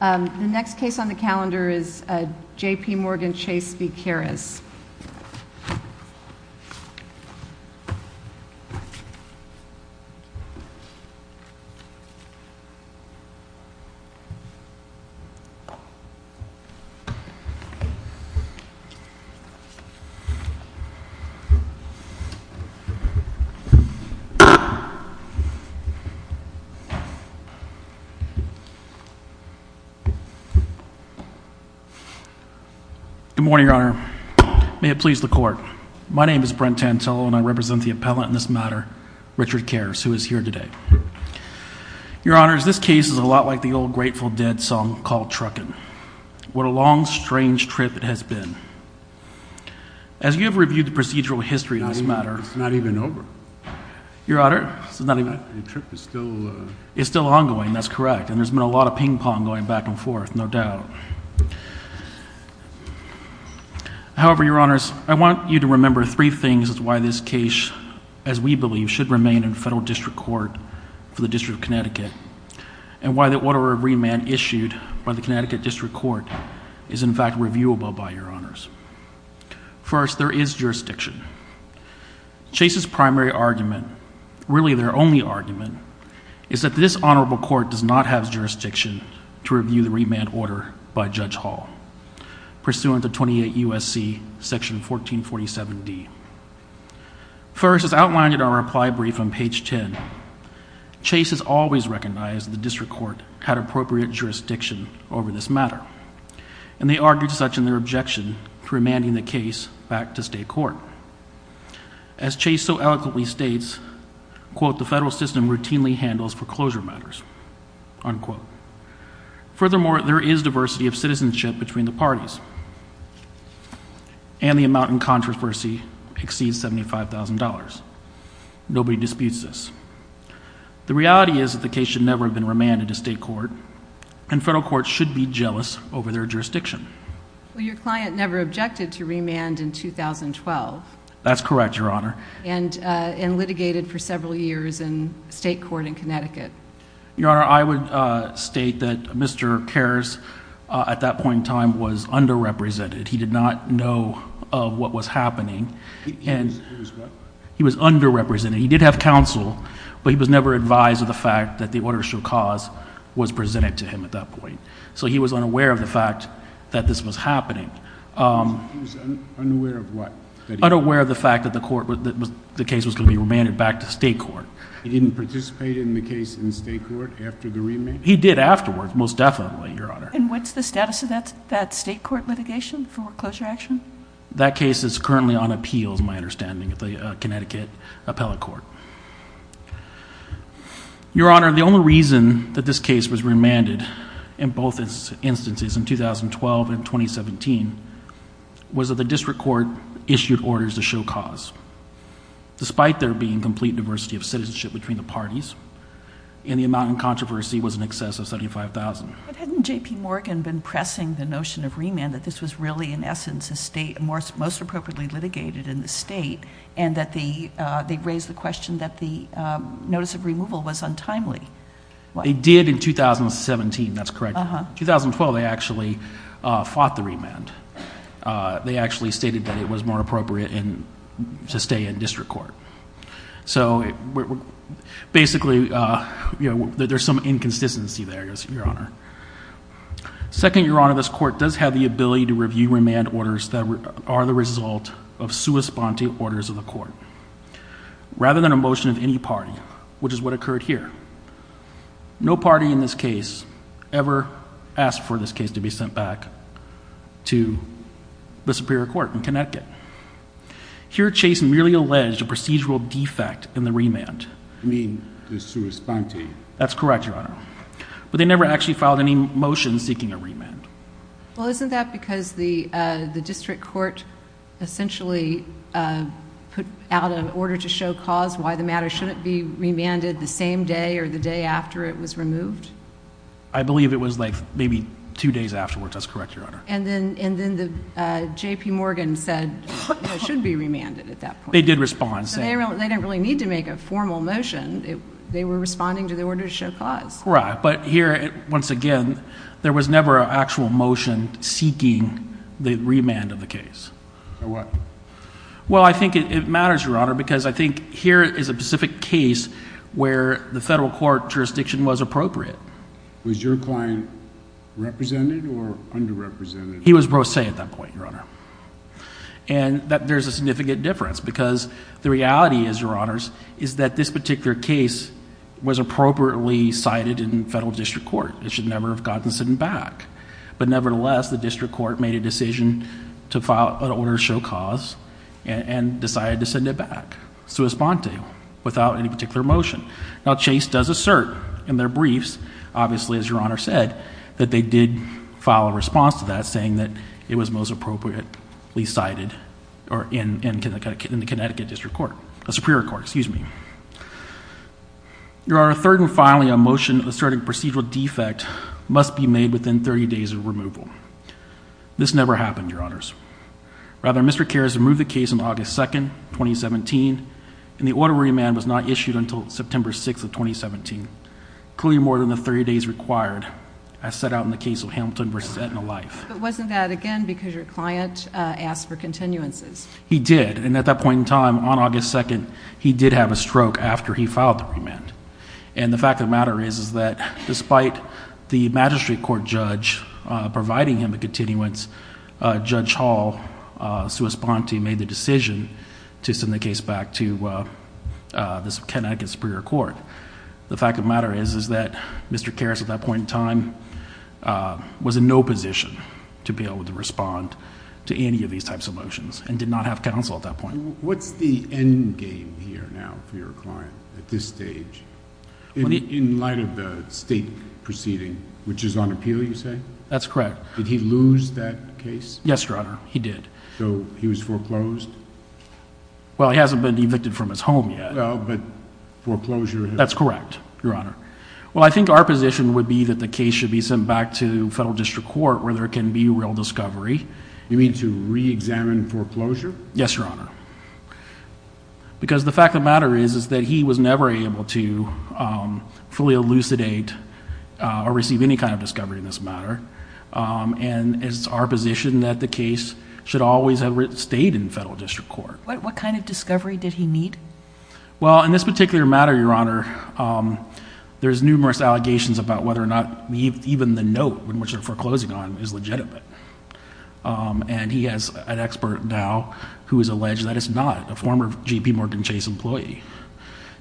The next case on the calendar is J.P. Morgan Chase v. Karras. Good morning, Your Honor. May it please the Court. My name is Brent Tantello and I represent the appellant in this matter, Richard Karras, who is here today. Your Honor, this case is a lot like the old Grateful Dead song called Truckin'. What a long, strange trip it has been. As you have reviewed the procedural history of this matter... It's not even over. Your Honor, it's not even... The trip is still... It's still ongoing, that's correct, and there's been a lot of ping-pong going back and forth, no doubt. However, Your Honors, I want you to remember three things as to why this case, as we believe, should remain in federal district court for the District of Connecticut and why the order of remand issued by the Connecticut District Court is, in fact, reviewable by Your Honors. First, there is jurisdiction. Chase's primary argument, really their only argument, is that this honorable court does not have jurisdiction to review the remand order by Judge Hall, pursuant to 28 U.S.C. section 1447D. First, as outlined in our reply brief on page 10, Chase has always recognized the district court had appropriate jurisdiction over this matter, and they argued such in their objection to remanding the case back to state court. As Chase so eloquently states, quote, the federal system routinely handles foreclosure matters, unquote. Furthermore, there is diversity of citizenship between the parties, and the amount in controversy exceeds $75,000. Nobody disputes this. The reality is that the case should never have been remanded to state court, and federal courts should be jealous over their jurisdiction. Well, your client never objected to remand in 2012. That's correct, Your Honor. And litigated for several years in state court in Connecticut. Your Honor, I would state that Mr. Kares, at that point in time, was underrepresented. He did not know of what was happening. He was what? He was underrepresented. He did have counsel, but he was never advised of the fact that the order shall cause was presented to him at that point. So he was unaware of the fact that this was happening. He was unaware of what? Unaware of the fact that the case was going to be remanded back to state court. He didn't participate in the case in state court after the remand? He did afterwards, most definitely, Your Honor. And what's the status of that state court litigation, foreclosure action? That case is currently on appeal, is my understanding, at the Connecticut Appellate Court. Your Honor, the only reason that this case was remanded in both instances, in 2012 and 2017, was that the district court issued orders to show cause. Despite there being complete diversity of citizenship between the parties, and the amount in controversy was in excess of $75,000. But hadn't J.P. Morgan been pressing the notion of remand, that this was really, in essence, most appropriately litigated in the state, and that they raised the question that the notice of removal was untimely? They did in 2017, that's correct. In 2012, they actually fought the remand. They actually stated that it was more appropriate to stay in district court. So basically, there's some inconsistency there, Your Honor. Second, Your Honor, this court does have the ability to review remand orders that are the result of sua sponte orders of the court, rather than a motion of any party, which is what occurred here. No party in this case ever asked for this case to be sent back to the Superior Court in Connecticut. Here, Chase merely alleged a procedural defect in the remand. You mean the sua sponte? That's correct, Your Honor. But they never actually filed any motion seeking a remand. Well, isn't that because the district court essentially put out an order to show cause why the matter shouldn't be remanded the same day or the day after it was removed? I believe it was like maybe two days afterwards. That's correct, Your Honor. And then J.P. Morgan said it shouldn't be remanded at that point. They did respond. So they didn't really need to make a formal motion. They were responding to the order to show cause. Right, but here, once again, there was never an actual motion seeking the remand of the case. A what? Well, I think it matters, Your Honor, because I think here is a specific case where the federal court jurisdiction was appropriate. Was your client represented or underrepresented? He was pro se at that point, Your Honor. And there's a significant difference because the reality is, Your Honors, is that this particular case was appropriately cited in federal district court. It should never have gotten sent back. But nevertheless, the district court made a decision to file an order to show cause and decided to send it back, sua sponte, without any particular motion. Now, Chase does assert in their briefs, obviously, as Your Honor said, that they did file a response to that saying that it was most appropriately cited in the Connecticut district court, Superior Court, excuse me. Your Honor, third and finally, a motion asserting procedural defect must be made within 30 days of removal. This never happened, Your Honors. Rather, Mr. Karras removed the case on August 2, 2017, and the order remand was not issued until September 6 of 2017, clearly more than the 30 days required as set out in the case of Hamilton v. Edna Life. But wasn't that, again, because your client asked for continuances? He did, and at that point in time, on August 2, he did have a stroke after he filed the remand. And the fact of the matter is that despite the magistrate court judge providing him a continuance, Judge Hall, sua sponte, made the decision to send the case back to the Connecticut Superior Court. The fact of the matter is that Mr. Karras, at that point in time, was in no position to be able to respond to any of these types of motions and did not have counsel at that point. What's the end game here now for your client at this stage in light of the state proceeding, which is on appeal, you say? That's correct. Did he lose that case? Yes, Your Honor, he did. So he was foreclosed? Well, he hasn't been evicted from his home yet. That's correct, Your Honor. Well, I think our position would be that the case should be sent back to federal district court where there can be real discovery. You mean to reexamine foreclosure? Yes, Your Honor. Because the fact of the matter is that he was never able to fully elucidate or receive any kind of discovery in this matter, and it's our position that the case should always have stayed in federal district court. What kind of discovery did he need? Well, in this particular matter, Your Honor, there's numerous allegations about whether or not even the note in which they're foreclosing on is legitimate. And he has an expert now who has alleged that it's not, a former J.P. Morgan Chase employee.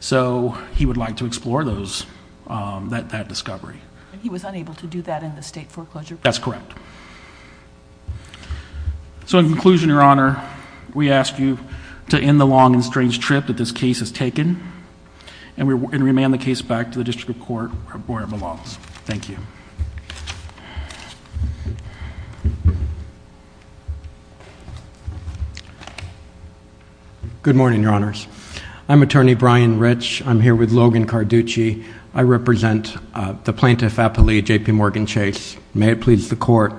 So he would like to explore that discovery. He was unable to do that in the state foreclosure? That's correct. So in conclusion, Your Honor, we ask you to end the long and strange trip that this case has taken and remand the case back to the district court where it belongs. Thank you. Good morning, Your Honors. I'm Attorney Brian Rich. I'm here with Logan Carducci. I represent the plaintiff, Apolli J.P. Morgan Chase. May it please the Court.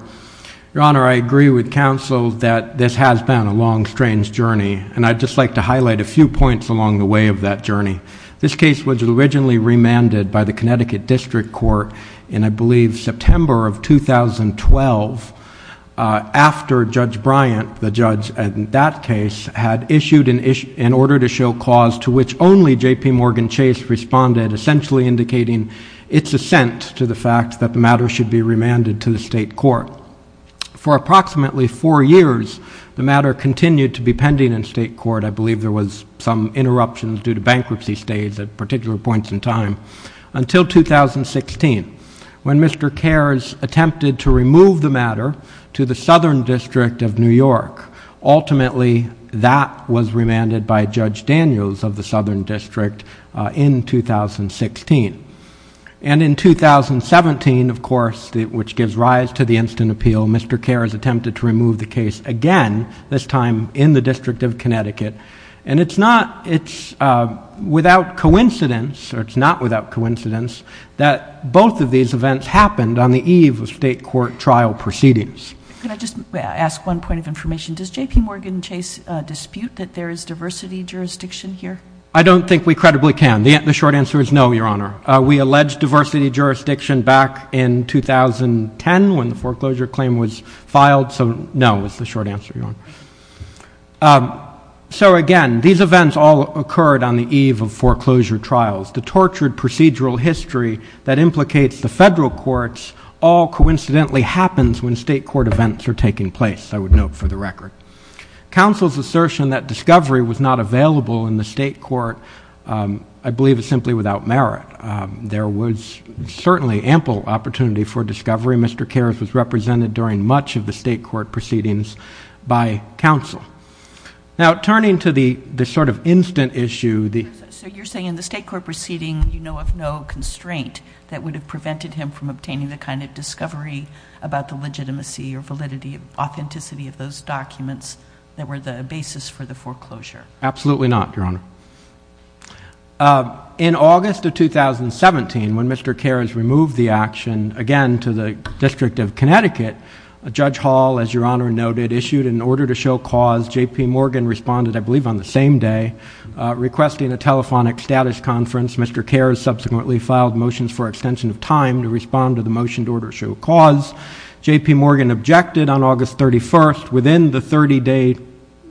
Your Honor, I agree with counsel that this has been a long, strange journey, and I'd just like to highlight a few points along the way of that journey. This case was originally remanded by the Connecticut District Court in, I believe, September of 2012, after Judge Bryant, the judge in that case, had issued an order to show clause to which only J.P. Morgan Chase responded, essentially indicating its assent to the fact that the matter should be remanded to the state court. For approximately four years, the matter continued to be pending in state court. I believe there was some interruption due to bankruptcy stays at particular points in time, until 2016, when Mr. Kares attempted to remove the matter to the Southern District of New York. Ultimately, that was remanded by Judge Daniels of the Southern District in 2016. In 2017, of course, which gives rise to the instant appeal, Mr. Kares attempted to remove the case again, this time in the District of Connecticut. It's not without coincidence, or it's not without coincidence, that both of these events happened on the eve of state court trial proceedings. Could I just ask one point of information? Does J.P. Morgan Chase dispute that there is diversity jurisdiction here? I don't think we credibly can. The short answer is no, Your Honor. We alleged diversity jurisdiction back in 2010, when the foreclosure claim was filed, so no is the short answer, Your Honor. So again, these events all occurred on the eve of foreclosure trials. The tortured procedural history that implicates the federal courts all coincidentally happens when state court events are taking place, I would note for the record. Counsel's assertion that discovery was not available in the state court, I believe, is simply without merit. There was certainly ample opportunity for discovery. Mr. Kares was represented during much of the state court proceedings by counsel. Now, turning to the sort of instant issue. So you're saying in the state court proceeding you know of no constraint that would have prevented him from obtaining the kind of discovery about the legitimacy or validity, authenticity of those documents that were the basis for the foreclosure? Absolutely not, Your Honor. In August of 2017, when Mr. Kares removed the action, again, to the District of Connecticut, Judge Hall, as Your Honor noted, issued an order to show cause. J.P. Morgan responded, I believe, on the same day, requesting a telephonic status conference. Mr. Kares subsequently filed motions for extension of time to respond to the motion to order to show cause. J.P. Morgan objected on August 31st, within the 30-day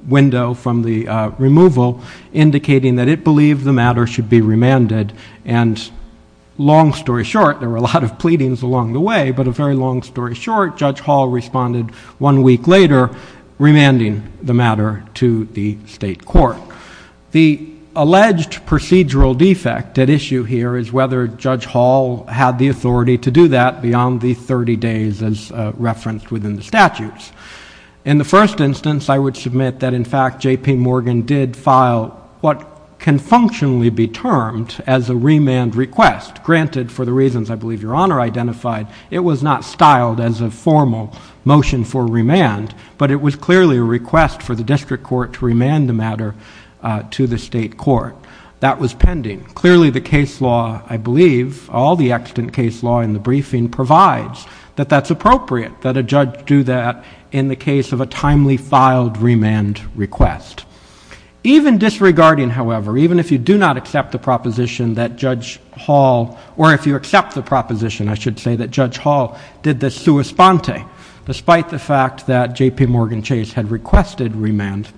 window from the removal, indicating that it believed the matter should be remanded. And long story short, there were a lot of pleadings along the way, but a very long story short, Judge Hall responded one week later, remanding the matter to the state court. The alleged procedural defect at issue here is whether Judge Hall had the authority to do that beyond the 30 days as referenced within the statutes. In the first instance, I would submit that, in fact, J.P. Morgan did file what can functionally be termed as a remand request. Granted, for the reasons I believe Your Honor identified, it was not styled as a formal motion for remand, but it was clearly a request for the district court to remand the matter to the state court. That was pending. Clearly, the case law, I believe, all the extant case law in the briefing, provides that that's appropriate, that a judge do that in the case of a timely filed remand request. Even disregarding, however, even if you do not accept the proposition that Judge Hall, or if you accept the proposition, I should say, that Judge Hall did the sua sponte, despite the fact that J.P. Morgan Chase had requested remand.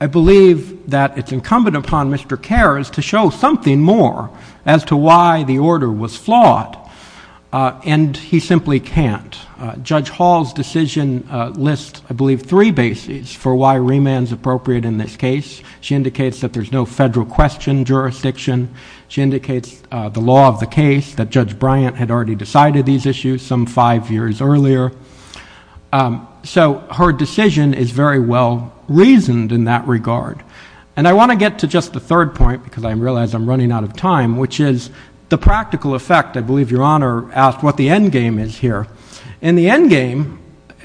I believe that it's incumbent upon Mr. Karras to show something more as to why the order was flawed, and he simply can't. Judge Hall's decision lists, I believe, three bases for why remand is appropriate in this case. She indicates that there's no federal question jurisdiction. She indicates the law of the case, that Judge Bryant had already decided these issues some five years earlier. So her decision is very well reasoned in that regard. And I want to get to just the third point, because I realize I'm running out of time, which is the practical effect. I believe Your Honor asked what the end game is here. In the end game,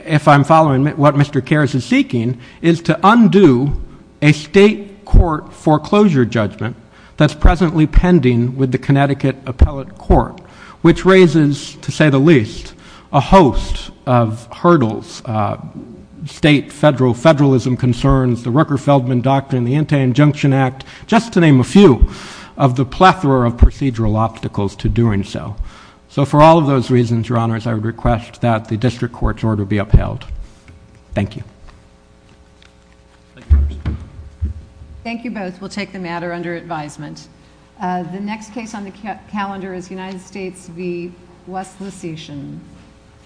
if I'm following what Mr. Karras is seeking, is to undo a state court foreclosure judgment that's presently pending with the Connecticut Appellate Court, which raises, to say the least, a host of hurdles, state federalism concerns, the Rucker-Feldman Doctrine, the Anti-Injunction Act, just to name a few of the plethora of procedural obstacles to doing so. So for all of those reasons, Your Honors, I would request that the district court's order be upheld. Thank you. Thank you both. We'll take the matter under advisement. The next case on the calendar is United States v. West Lusitian.